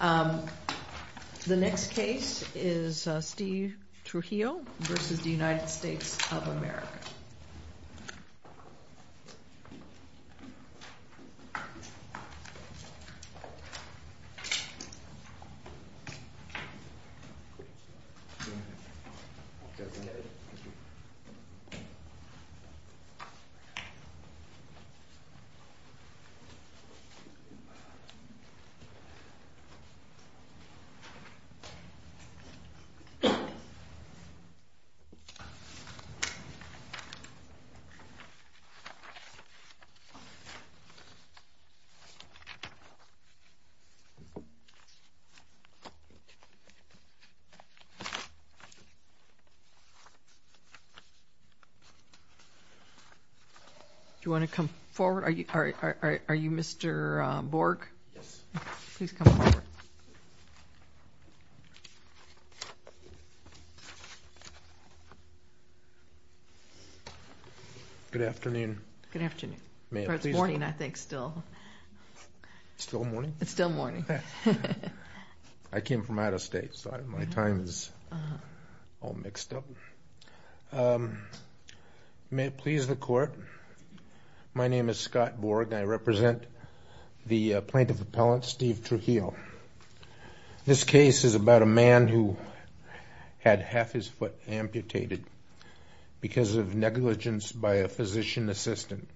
The next case is Steve Trujillo v. United States of America. Steve Trujillo, Jr. v. United States of America Good afternoon. Good afternoon. It's morning, I think, still. It's still morning? It's still morning. I came from out of state, so my time is all mixed up. May it please the Court, my name is Scott Borg, and I represent the plaintiff appellant Steve Trujillo. This case is about a man who had half his foot amputated because of negligence by a physician assistant.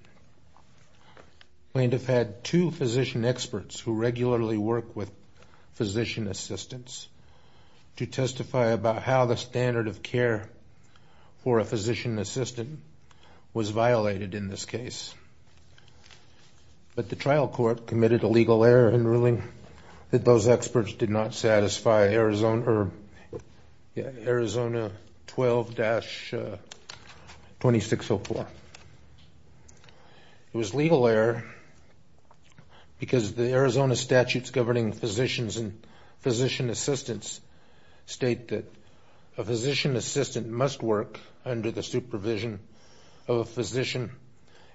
The plaintiff had two physician experts who regularly work with physician assistants to testify about how the standard of care for a physician assistant was violated in this case. But the trial court committed a legal error in ruling that those experts did not satisfy Arizona 12-2604. It was a legal error because the Arizona statutes governing physicians and physician assistants state that a physician assistant must work under the supervision of a physician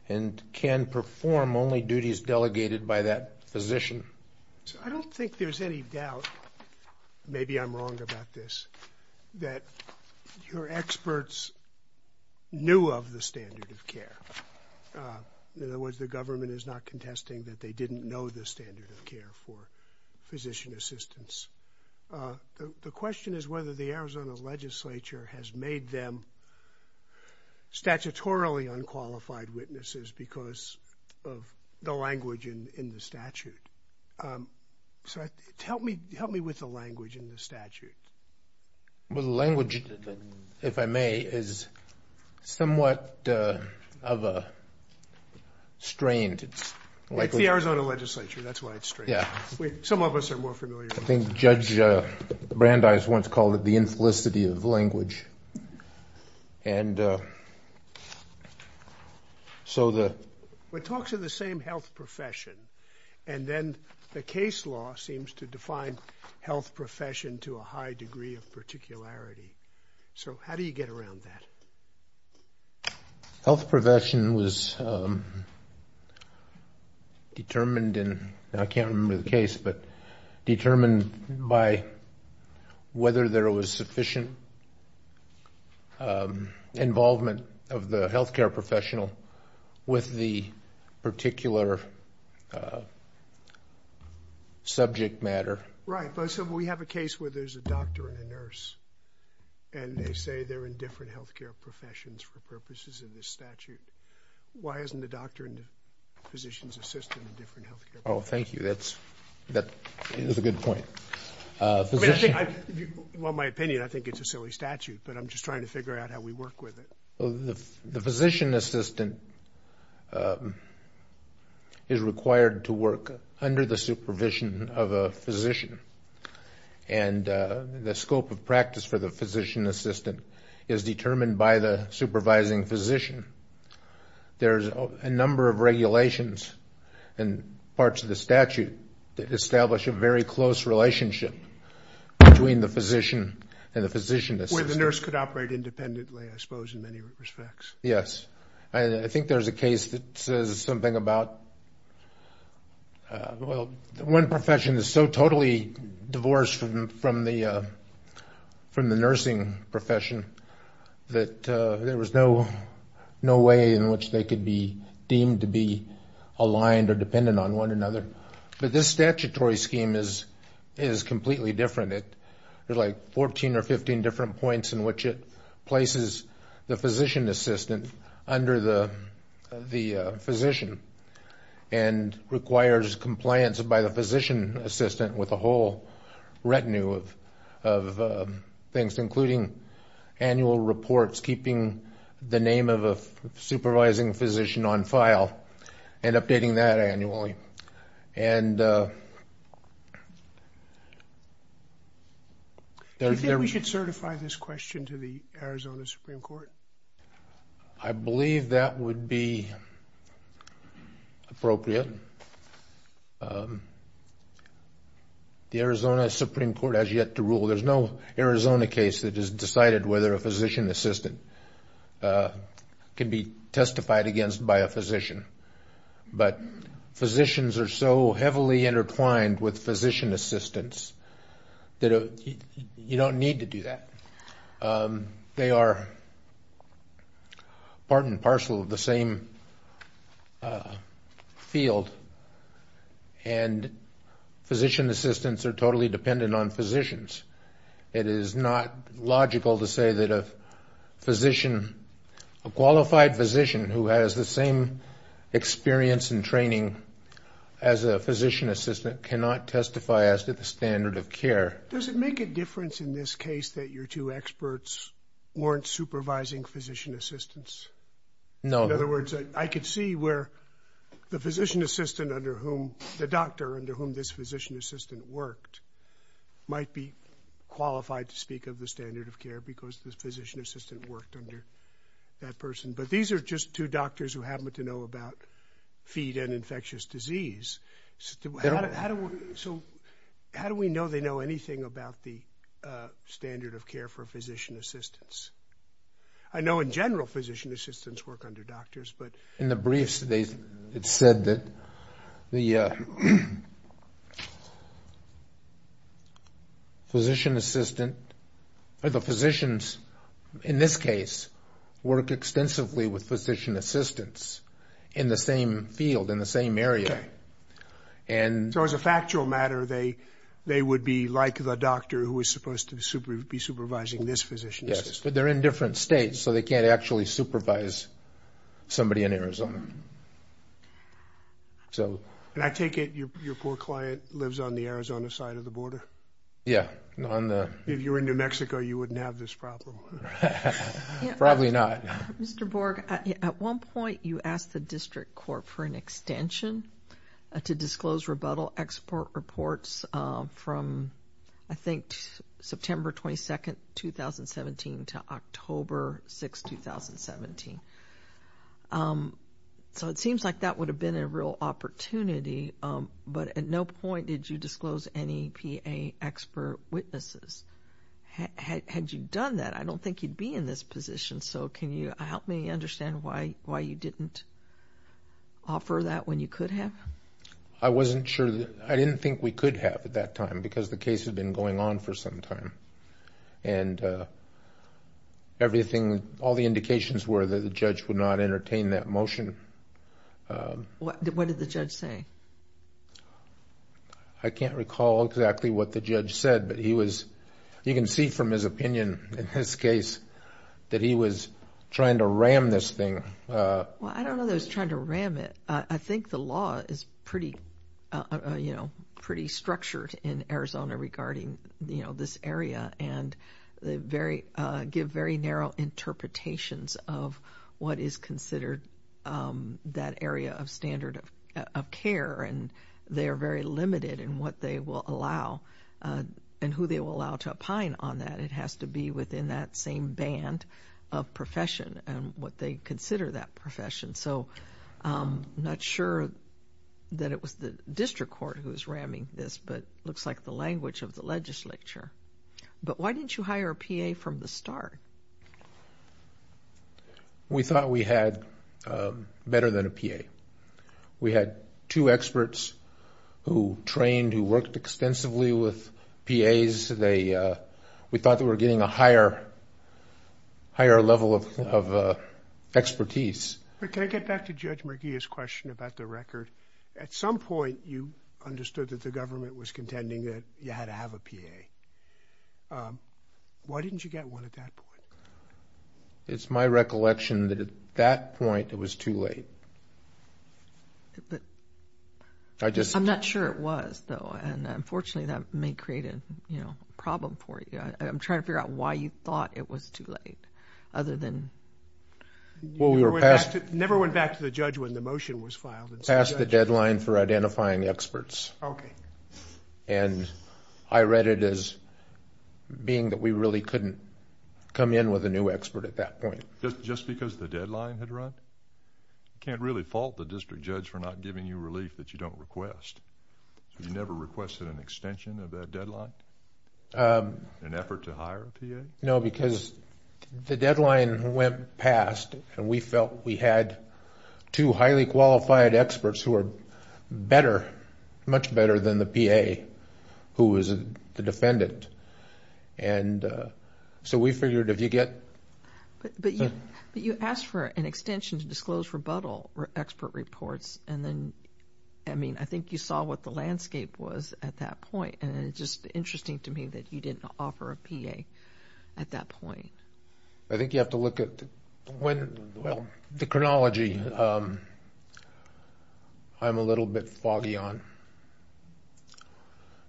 and can perform only duties delegated by that physician. I don't think there's any doubt, maybe I'm wrong about this, that your experts knew of the standard of care. In other words, the government is not contesting that they didn't know the standard of care for physician assistants. The question is whether the Arizona legislature has made them statutorily unqualified witnesses because of the language in the statute. So help me with the language in the statute. Well, the language, if I may, is somewhat of a strain. It's the Arizona legislature, that's why it's strained. Some of us are more familiar with it. I think Judge Brandeis once called it the inflicity of language. And so the... It talks of the same health profession, and then the case law seems to define health profession to a high degree of particularity. So how do you get around that? Health profession was determined in, I can't remember the case, but determined by whether there was sufficient involvement of the healthcare professional with the particular subject matter. Right. So we have a case where there's a doctor and a nurse, and they say they're in different healthcare professions for purposes of this statute. Why isn't the doctor and the physician's assistant in different healthcare professions? Oh, thank you. That is a good point. Well, in my opinion, I think it's a silly statute, but I'm just trying to figure out how we work with it. The physician assistant is required to work under the supervision of a physician, and the scope of practice for the physician assistant is determined by the supervising physician. There's a number of regulations and parts of the statute that establish a very close relationship between the physician and the physician assistant. Where the nurse could operate independently, I suppose, in many respects. Yes. I think there's a case that says something about, well, one profession is so totally divorced from the nursing profession that there was no way in which they could be deemed to be aligned or dependent on one another. But this statutory scheme is completely different. There are like 14 or 15 different points in which it places the physician assistant under the physician and requires compliance by the physician assistant with a whole retinue of things, including annual reports, keeping the name of a supervising physician on file, and updating that annually. Do you think we should certify this question to the Arizona Supreme Court? I believe that would be appropriate. The Arizona Supreme Court has yet to rule. There's no Arizona case that has decided whether a physician assistant can be testified against by a physician. But physicians are so heavily intertwined with physician assistants that you don't need to do that. They are part and parcel of the same field, and physician assistants are totally dependent on physicians. It is not logical to say that a physician, a qualified physician who has the same experience and training as a physician assistant cannot testify as to the standard of care. Does it make a difference in this case that your two experts weren't supervising physician assistants? In other words, I could see where the physician assistant under whom, the doctor under whom this physician assistant worked, might be qualified to speak of the standard of care because the physician assistant worked under that person. But these are just two doctors who happen to know about feed and infectious disease. So how do we know they know anything about the standard of care for physician assistants? I know in general physician assistants work under doctors, but... In the briefs it said that the physician assistant, or the physicians in this case work extensively with physician assistants in the same field, in the same area. So as a factual matter, they would be like the doctor who is supposed to be supervising this physician assistant. Yes, but they're in different states, so they can't actually supervise somebody in Arizona. And I take it your poor client lives on the Arizona side of the border? Yeah. If you were in New Mexico, you wouldn't have this problem. Probably not. Mr. Borg, at one point you asked the district court for an extension to disclose rebuttal export reports from, I think, September 22, 2017 to October 6, 2017. So it seems like that would have been a real opportunity, but at no point did you disclose any PA expert witnesses. Had you done that, I don't think you'd be in this position. So can you help me understand why you didn't offer that when you could have? I wasn't sure. I didn't think we could have at that time because the case had been going on for some time, and all the indications were that the judge would not entertain that motion. What did the judge say? I can't recall exactly what the judge said, but you can see from his opinion in this case that he was trying to ram this thing. Well, I don't know that he was trying to ram it. I think the law is pretty structured in Arizona regarding this area, and they give very narrow interpretations of what is considered that area of standard of care, and they are very limited in what they will allow and who they will allow to opine on that. It has to be within that same band of profession and what they consider that profession. So I'm not sure that it was the district court who was ramming this, but it looks like the language of the legislature. But why didn't you hire a PA from the start? We thought we had better than a PA. We had two experts who trained, who worked extensively with PAs. We thought that we were getting a higher level of expertise. But can I get back to Judge McGeeh's question about the record? At some point, you understood that the government was contending that you had to have a PA. Why didn't you get one at that point? It's my recollection that at that point, it was too late. I'm not sure it was, though, and unfortunately, that may create a problem for you. I'm trying to figure out why you thought it was too late, other than... You never went back to the judge when the motion was filed? Passed the deadline for identifying experts. Okay. I read it as being that we really couldn't come in with a new expert at that point. Just because the deadline had run? You can't really fault the district judge for not giving you relief that you don't request. You never requested an extension of that deadline? An effort to hire a PA? No, because the deadline went past, and we felt we had two highly qualified experts who are much better than the PA, who was the defendant. So we figured if you get... But you asked for an extension to disclose rebuttal expert reports. I think you saw what the landscape was at that point, and it's just interesting to me that you didn't offer a PA at that point. I think you have to look at the chronology. I'm a little bit foggy on...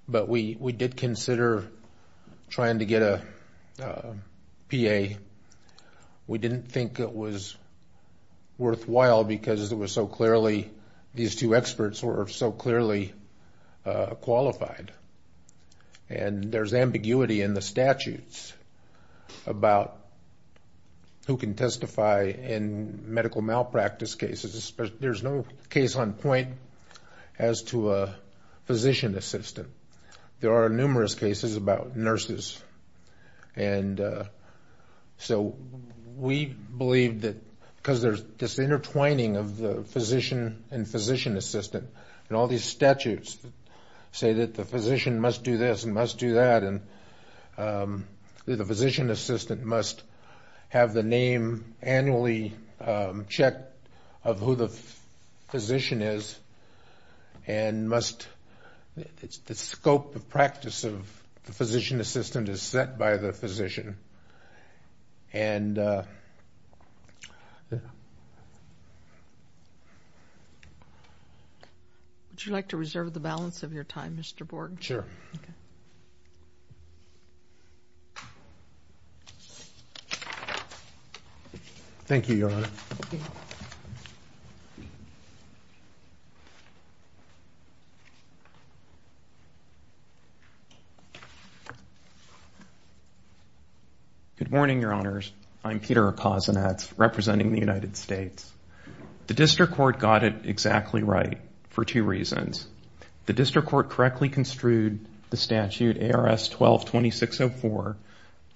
But we did consider trying to get a PA. We didn't think it was worthwhile because it was so clearly... These two experts were so clearly qualified. And there's ambiguity in the statutes about who can testify in medical malpractice cases. There's no case on point as to a physician assistant. There are numerous cases about nurses. We believe that because there's this intertwining of the physician and physician assistant, and all these statutes say that the physician must do this and must do that, and the physician assistant must have the name annually checked of who the physician is, and must... The scope of practice of the physician assistant is set by the physician. Would you like to reserve the balance of your time, Mr. Borg? Sure. Okay. Thank you, Your Honor. Thank you. Thank you. Good morning, Your Honors. I'm Peter Okozunets, representing the United States. The district court got it exactly right for two reasons. The district court correctly construed the statute ARS 12-2604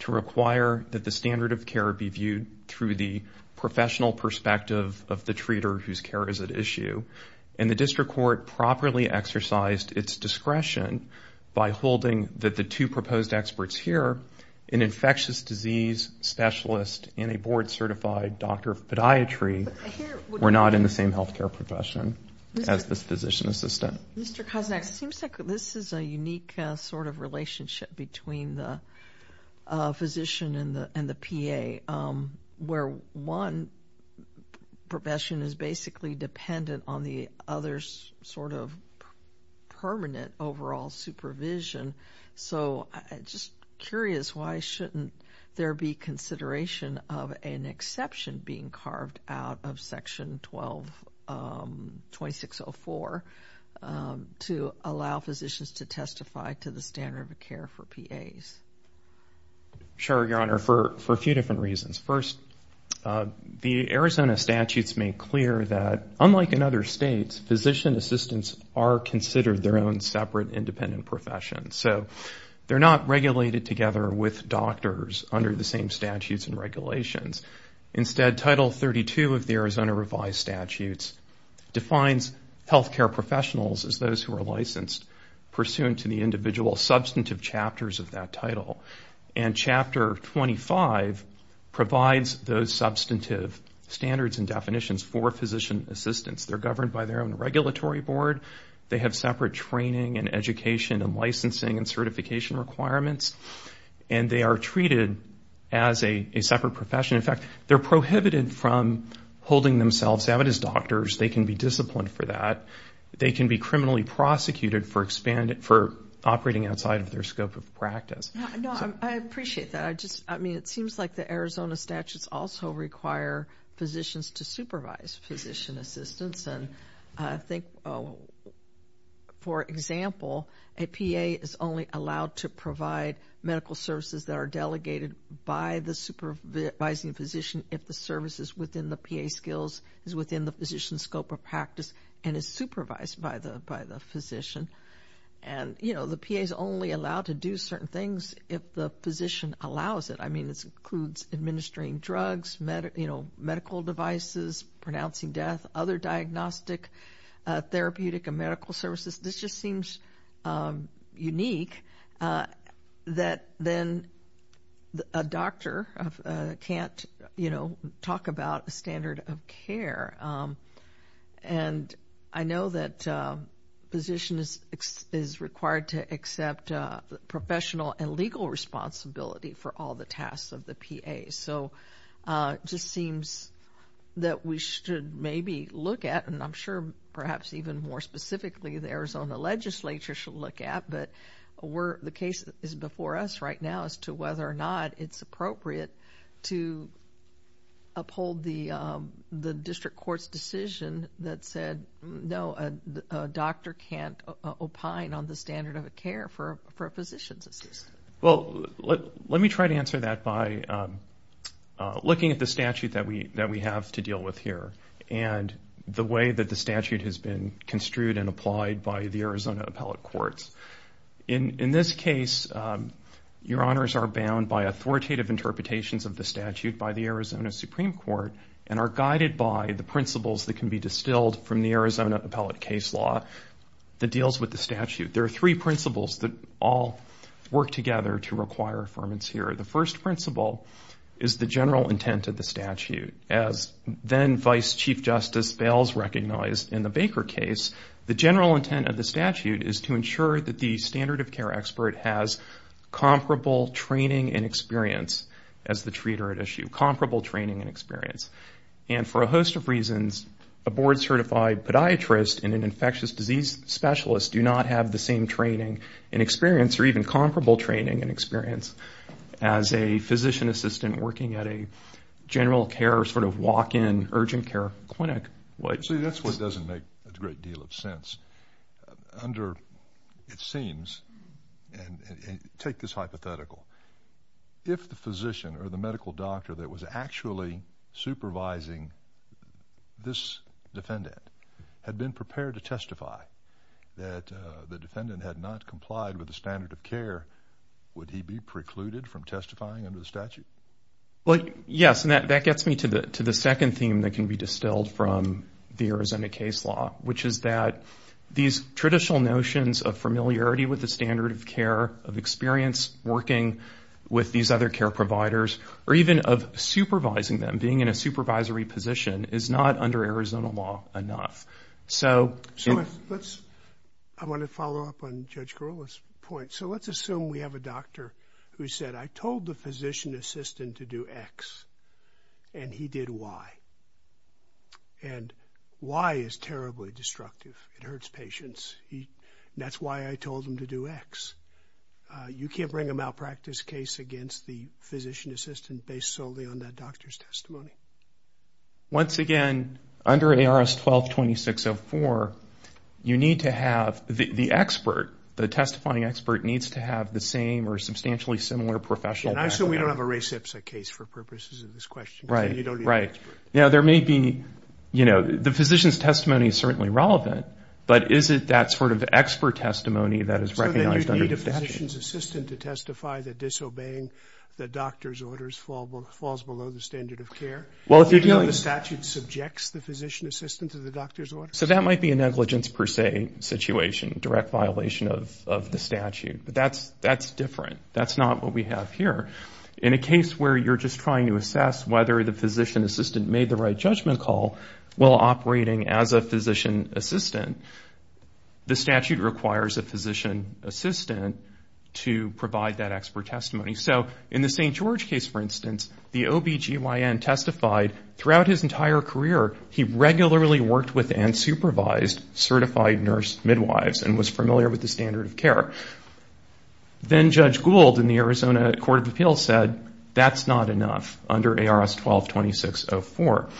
to require that the standard of care be viewed through the professional perspective of the treater whose care is at issue. And the district court properly exercised its discretion by holding that the two proposed experts here, an infectious disease specialist and a board-certified doctor of podiatry, were not in the same health care profession as this physician assistant. Mr. Okozunets, it seems like this is a unique sort of relationship between the physician and the PA, where one profession is basically dependent on the other's sort of permanent overall supervision. So I'm just curious, why shouldn't there be consideration of an exception being carved out of Section 12-2604 to allow physicians to testify to the standard of care for PAs? Sure, Your Honor, for a few different reasons. First, the Arizona statutes make clear that, unlike in other states, physician assistants are considered their own separate independent professions. So they're not regulated together with doctors under the same statutes and regulations. Instead, Title 32 of the Arizona revised statutes defines health care professionals as those who are licensed pursuant to the individual substantive chapters of that title. And Chapter 25 provides those substantive standards and definitions for physician assistants. They're governed by their own regulatory board. They have separate training and education and licensing and certification requirements. And they are treated as a separate profession. In fact, they're prohibited from holding themselves out as doctors. They can be disciplined for that. They can be criminally prosecuted for operating outside of their scope of practice. I appreciate that. I mean, it seems like the Arizona statutes also require physicians to supervise physician assistants. And I think, for example, a PA is only allowed to provide medical services that are delegated by the supervising physician if the services within the PA skills is within the physician's scope of practice and is supervised by the physician. And, you know, the PA is only allowed to do certain things if the physician allows it. I mean, this includes administering drugs, medical devices, pronouncing death, other diagnostic, therapeutic, and medical services. This just seems unique that then a doctor can't, you know, talk about a standard of care. And I know that physicians is required to accept professional and legal responsibility for all the tasks of the PA. So it just seems that we should maybe look at, and I'm sure perhaps even more specifically the Arizona legislature should look at, but the case is before us right now as to whether or not it's appropriate to uphold the district court's decision that said, no, a doctor can't opine on the standard of care for a physician's assistant. Well, let me try to answer that by looking at the statute that we have to deal with here and the way that the statute has been construed and applied by the Arizona appellate courts. In this case, your honors are bound by authoritative interpretations of the statute by the Arizona Supreme Court and are guided by the principles that can be distilled from the Arizona appellate case law that deals with the statute. There are three principles that all work together to require affirmance here. The first principle is the general intent of the statute. As then Vice Chief Justice Bales recognized in the Baker case, the general intent of the statute is to ensure that the standard of care expert has comparable training and experience as the treater at issue, comparable training and experience. And for a host of reasons, a board-certified podiatrist and an infectious disease specialist do not have the same training and experience or even comparable training and experience as a physician assistant working at a general care sort of walk-in urgent care clinic. See, that's what doesn't make a great deal of sense. Under it seems, and take this hypothetical, if the physician or the medical doctor that was actually supervising this defendant had been prepared to testify that the defendant had not complied with the standard of care, would he be precluded from testifying under the statute? Well, yes, and that gets me to the second theme that can be distilled from the Arizona case law, which is that these traditional notions of familiarity with the standard of care, of experience working with these other care providers, or even of supervising them, being in a supervisory position is not under Arizona law enough. So let's, I want to follow up on Judge Gorilla's point. So let's assume we have a doctor who said, I told the physician assistant to do X and he did Y. And Y is terribly destructive. It hurts patients. That's why I told him to do X. You can't bring a malpractice case against the physician assistant based solely on that doctor's testimony. Once again, under ARS 12-2604, you need to have the expert, the testifying expert needs to have the same or substantially similar professional background. And I assume we don't have a Ray Sipsa case for purposes of this question. Right, right. Now there may be, you know, the physician's testimony is certainly relevant, but is it that sort of expert testimony that is recognized under the statute? So then you'd need a physician's assistant to testify that disobeying the doctor's orders falls below the standard of care? Well, if you're dealing with... Even though the statute subjects the physician assistant to the doctor's orders? So that might be a negligence per se situation, direct violation of the statute. But that's different. That's not what we have here. In a case where you're just trying to assess whether the physician assistant made the right judgment call, while operating as a physician assistant, the statute requires a physician assistant to provide that expert testimony. So in the St. George case, for instance, the OBGYN testified throughout his entire career, he regularly worked with and supervised certified nurse midwives and was familiar with the standard of care. Then Judge Gould in the Arizona Court of Appeals said that's not enough under ARS 12-2604.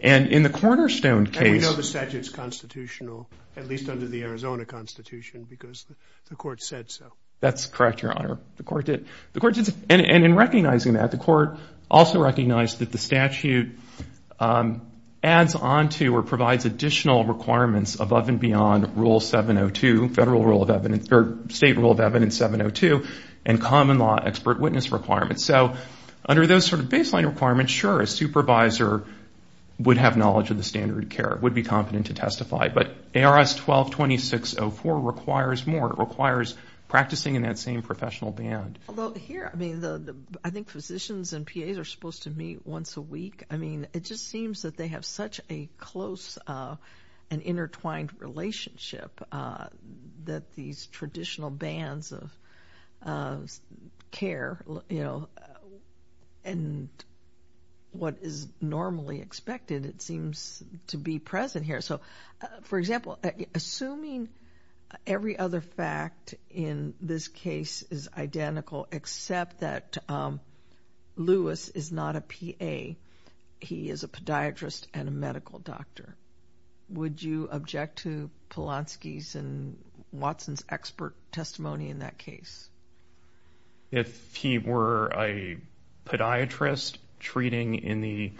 And in the Cornerstone case... And we know the statute's constitutional, at least under the Arizona Constitution, because the court said so. That's correct, Your Honor. The court did. And in recognizing that, the court also recognized that the statute adds on to or provides additional requirements above and beyond Rule 702, Federal Rule of Evidence, or State Rule of Evidence 702 and common law expert witness requirements. So under those sort of baseline requirements, sure, a supervisor would have knowledge of the standard of care, would be competent to testify, but ARS 12-2604 requires more. It requires practicing in that same professional band. Although here, I mean, I think physicians and PAs are supposed to meet once a week. I mean, it just seems that they have such a close and intertwined relationship that these traditional bands of care, you know, and what is normally expected, it seems to be present here. So, for example, assuming every other fact in this case is identical, except that Lewis is not a PA, he is a podiatrist and a medical doctor, would you object to Polanski's and Watson's expert testimony in that case? If he were a podiatrist treating in the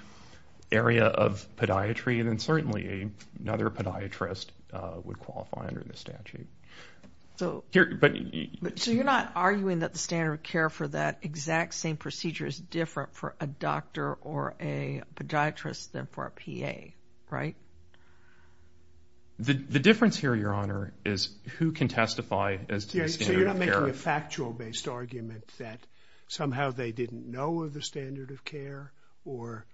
area of podiatry, then certainly another podiatrist would qualify under the statute. So you're not arguing that the standard of care for that exact same procedure is different for a doctor or a podiatrist than for a PA, right? The difference here, Your Honor, is who can testify as to the standard of care. So you're not making a factual-based argument that somehow they didn't know of the standard of care or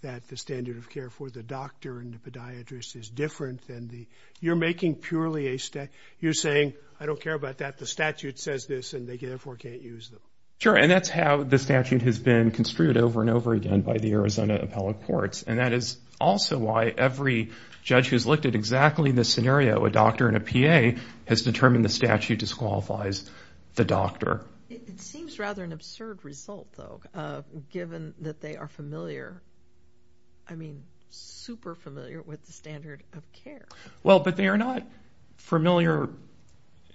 that the standard of care for the doctor and the podiatrist is different than the – you're making purely a – you're saying, I don't care about that. The statute says this, and they therefore can't use them. Sure, and that's how the statute has been construed over and over again by the Arizona appellate courts, and that is also why every judge who's looked at exactly this scenario, a doctor and a PA, has determined the statute disqualifies the doctor. It seems rather an absurd result, though, given that they are familiar – I mean, super familiar with the standard of care. Well, but they are not familiar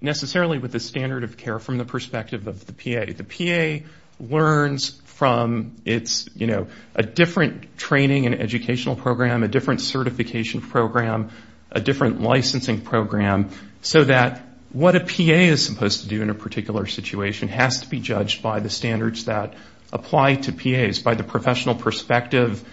necessarily with the standard of care from the perspective of the PA. The PA learns from its – you know, a different training and educational program, a different certification program, a different licensing program, so that what a PA is supposed to do in a particular situation has to be judged by the standards that apply to PAs, by the professional perspective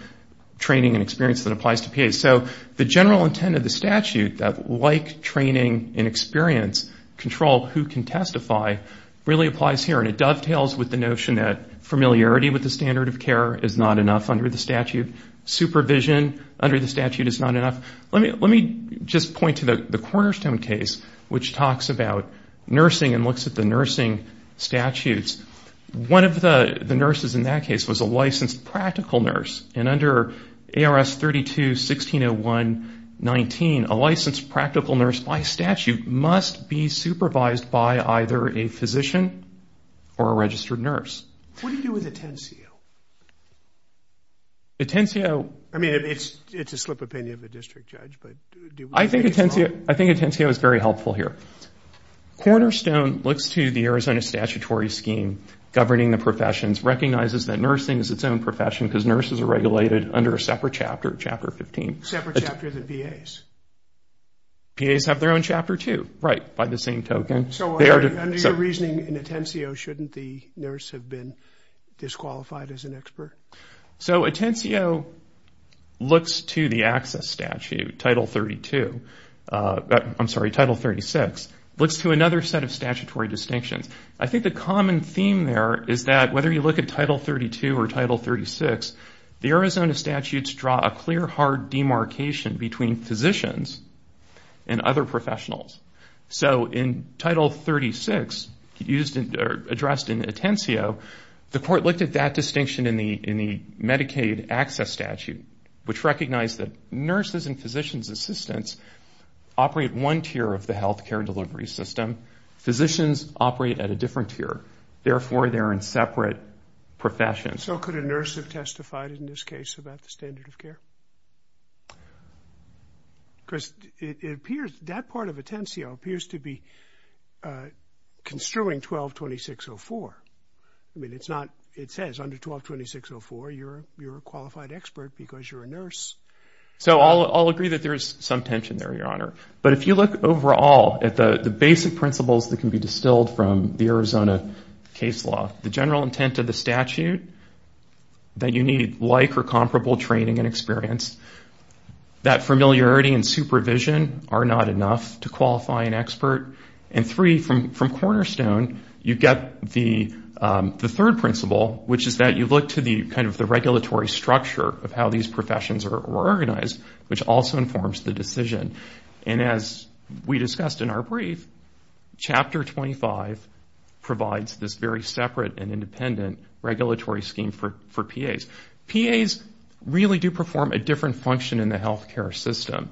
training and experience that applies to PAs. So the general intent of the statute, that like training and experience, control who can testify, really applies here, and it dovetails with the notion that familiarity with the standard of care is not enough under the statute. Supervision under the statute is not enough. Let me just point to the Cornerstone case, which talks about nursing and looks at the nursing statutes. One of the nurses in that case was a licensed practical nurse, and under ARS 32-1601-19, a licensed practical nurse by statute must be supervised by either a physician or a registered nurse. What do you do with Atencio? Atencio – I mean, it's a slip of the penny of a district judge, but – I think Atencio is very helpful here. Cornerstone looks to the Arizona statutory scheme governing the professions, recognizes that nursing is its own profession because nurses are regulated under a separate chapter, Chapter 15. A separate chapter than PAs? PAs have their own Chapter 2, right, by the same token. So under your reasoning, in Atencio, shouldn't the nurse have been disqualified as an expert? So Atencio looks to the access statute, Title 32 – I'm sorry, Title 36, looks to another set of statutory distinctions. I think the common theme there is that whether you look at Title 32 or Title 36, the Arizona statutes draw a clear, hard demarcation between physicians and other professionals. So in Title 36, addressed in Atencio, the court looked at that distinction in the Medicaid access statute, which recognized that nurses and physicians assistants operate one tier of the health care delivery system. Physicians operate at a different tier. Therefore, they're in separate professions. And so could a nurse have testified in this case about the standard of care? Because it appears that part of Atencio appears to be construing 12-2604. I mean, it's not – it says under 12-2604, you're a qualified expert because you're a nurse. So I'll agree that there is some tension there, Your Honor. But if you look overall at the basic principles that can be distilled from the Arizona case law, the general intent of the statute, that you need like or comparable training and experience, that familiarity and supervision are not enough to qualify an expert, and three, from Cornerstone, you get the third principle, which is that you look to the kind of the regulatory structure of how these professions are organized, which also informs the decision. And as we discussed in our brief, Chapter 25 provides this very separate and independent regulatory scheme for PAs. PAs really do perform a different function in the health care system.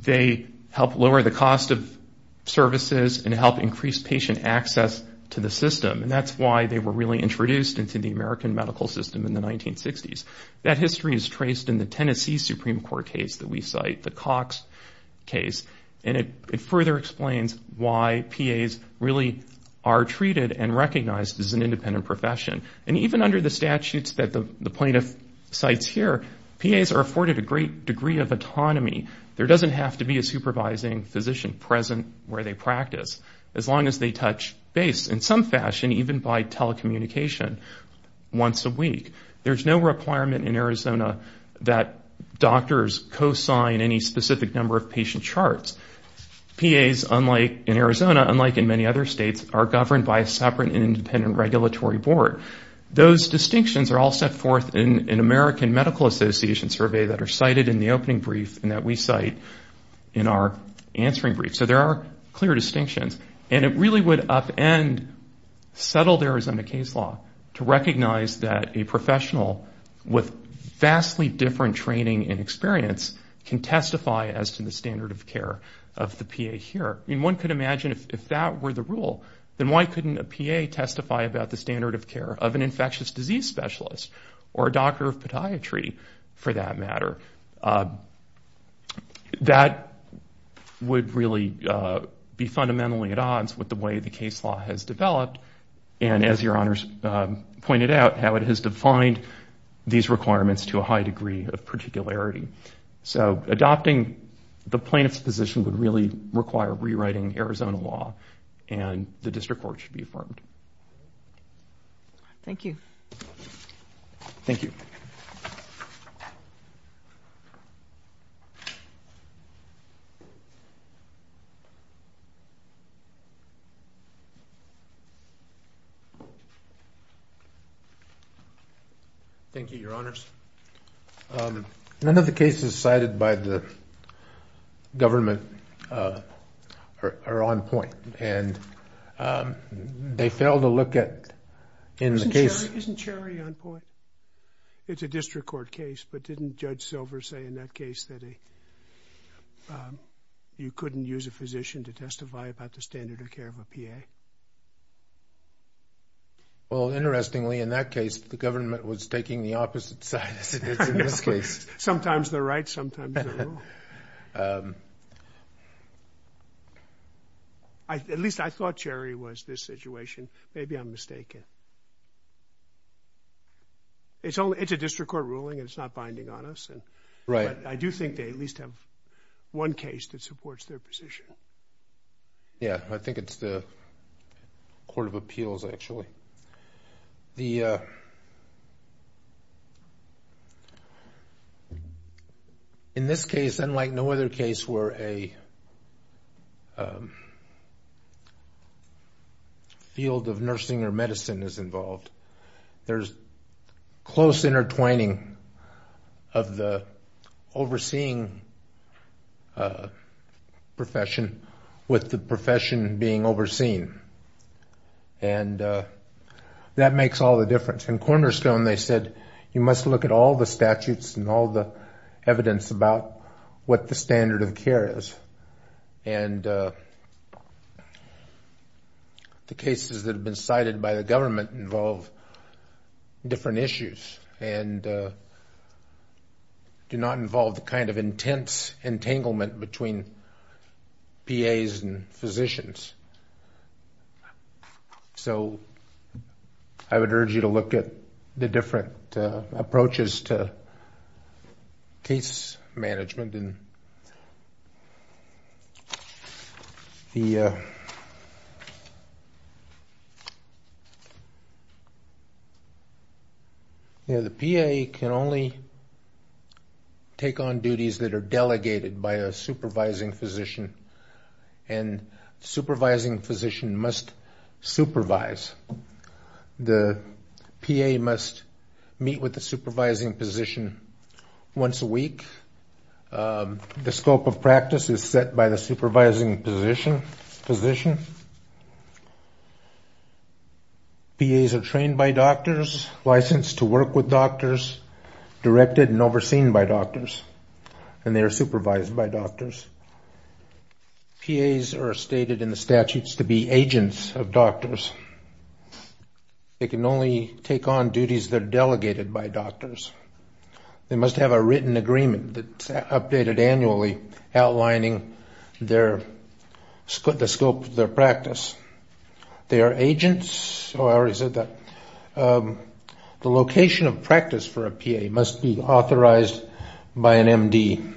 They help lower the cost of services and help increase patient access to the system, and that's why they were really introduced into the American medical system in the 1960s. That history is traced in the Tennessee Supreme Court case that we cite, the Cox case, and it further explains why PAs really are treated and recognized as an independent profession. And even under the statutes that the plaintiff cites here, PAs are afforded a great degree of autonomy. There doesn't have to be a supervising physician present where they practice, as long as they touch base in some fashion, even by telecommunication once a week. There's no requirement in Arizona that doctors co-sign any specific number of patient charts. PAs, unlike in Arizona, unlike in many other states, are governed by a separate and independent regulatory board. Those distinctions are all set forth in an American Medical Association survey that are cited in the opening brief and that we cite in our answering brief. So there are clear distinctions, and it really would upend settled Arizona case law to recognize that a professional with vastly different training and experience can testify as to the standard of care of the PA here. I mean, one could imagine if that were the rule, then why couldn't a PA testify about the standard of care of an infectious disease specialist or a doctor of podiatry, for that matter? That would really be fundamentally at odds with the way the case law has developed, and as Your Honors pointed out, how it has defined these requirements to a high degree of particularity. So adopting the plaintiff's position would really require rewriting Arizona law, and the district court should be affirmed. Thank you. Thank you. Thank you, Your Honors. None of the cases cited by the government are on point, and they fail to look at in the case... Isn't Cherry on point? It's a district court case, but didn't Judge Silver say in that case that you couldn't use a physician to testify about the standard of care of a PA? Well, interestingly, in that case, the government was taking the opposite side as it did in this case. Sometimes they're right, sometimes they're wrong. At least I thought Cherry was this situation. Maybe I'm mistaken. It's a district court ruling. It's not binding on us. Right. I do think they at least have one case that supports their position. Yeah, I think it's the Court of Appeals, actually. The... In this case, unlike no other case where a field of nursing or medicine is involved, there's close intertwining of the overseeing profession with the profession being overseen. And that makes all the difference. In Cornerstone, they said you must look at all the statutes and all the evidence about what the standard of care is. And the cases that have been cited by the government involve different issues and do not involve the kind of intense entanglement between PAs and physicians. So I would urge you to look at the different approaches to case management. The PA can only take on duties that are delegated by a supervising physician. And the supervising physician must supervise. The PA must meet with the supervising physician once a week. The scope of practice is set by the supervising physician. PAs are trained by doctors, licensed to work with doctors, directed and overseen by doctors, and they are supervised by doctors. PAs are stated in the statutes to be agents of doctors. They can only take on duties that are delegated by doctors. They must have a written agreement that's updated annually outlining the scope of their practice. They are agents, oh, I already said that, the location of practice for a PA must be authorized by an MD.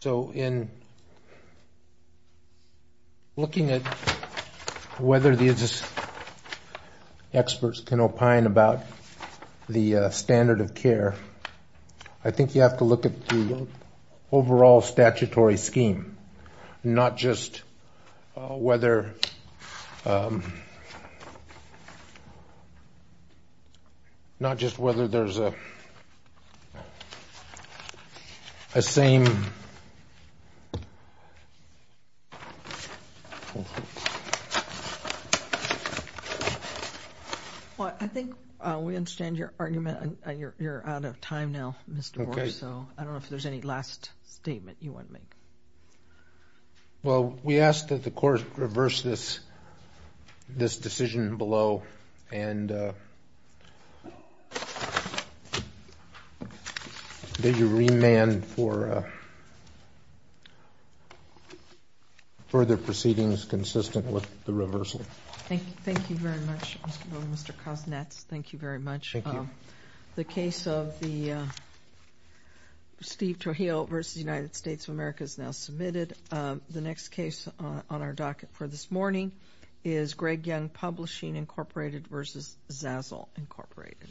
So in looking at whether the experts can opine about the standard of care, I think you have to look at the overall statutory scheme, not just whether there's a same. Well, I think we understand your argument. You're out of time now, Mr. Moore, so I don't know if there's any last statement you want to make. Well, we ask that the court reverse this decision below, and that you remand for further proceedings consistent with the reversal. Thank you very much, Mr. Cosnett. Thank you very much. Thank you. The case of the Steve Toheo v. United States of America is now submitted. The next case on our docket for this morning is Greg Young Publishing, Incorporated v. Zazzle, Incorporated.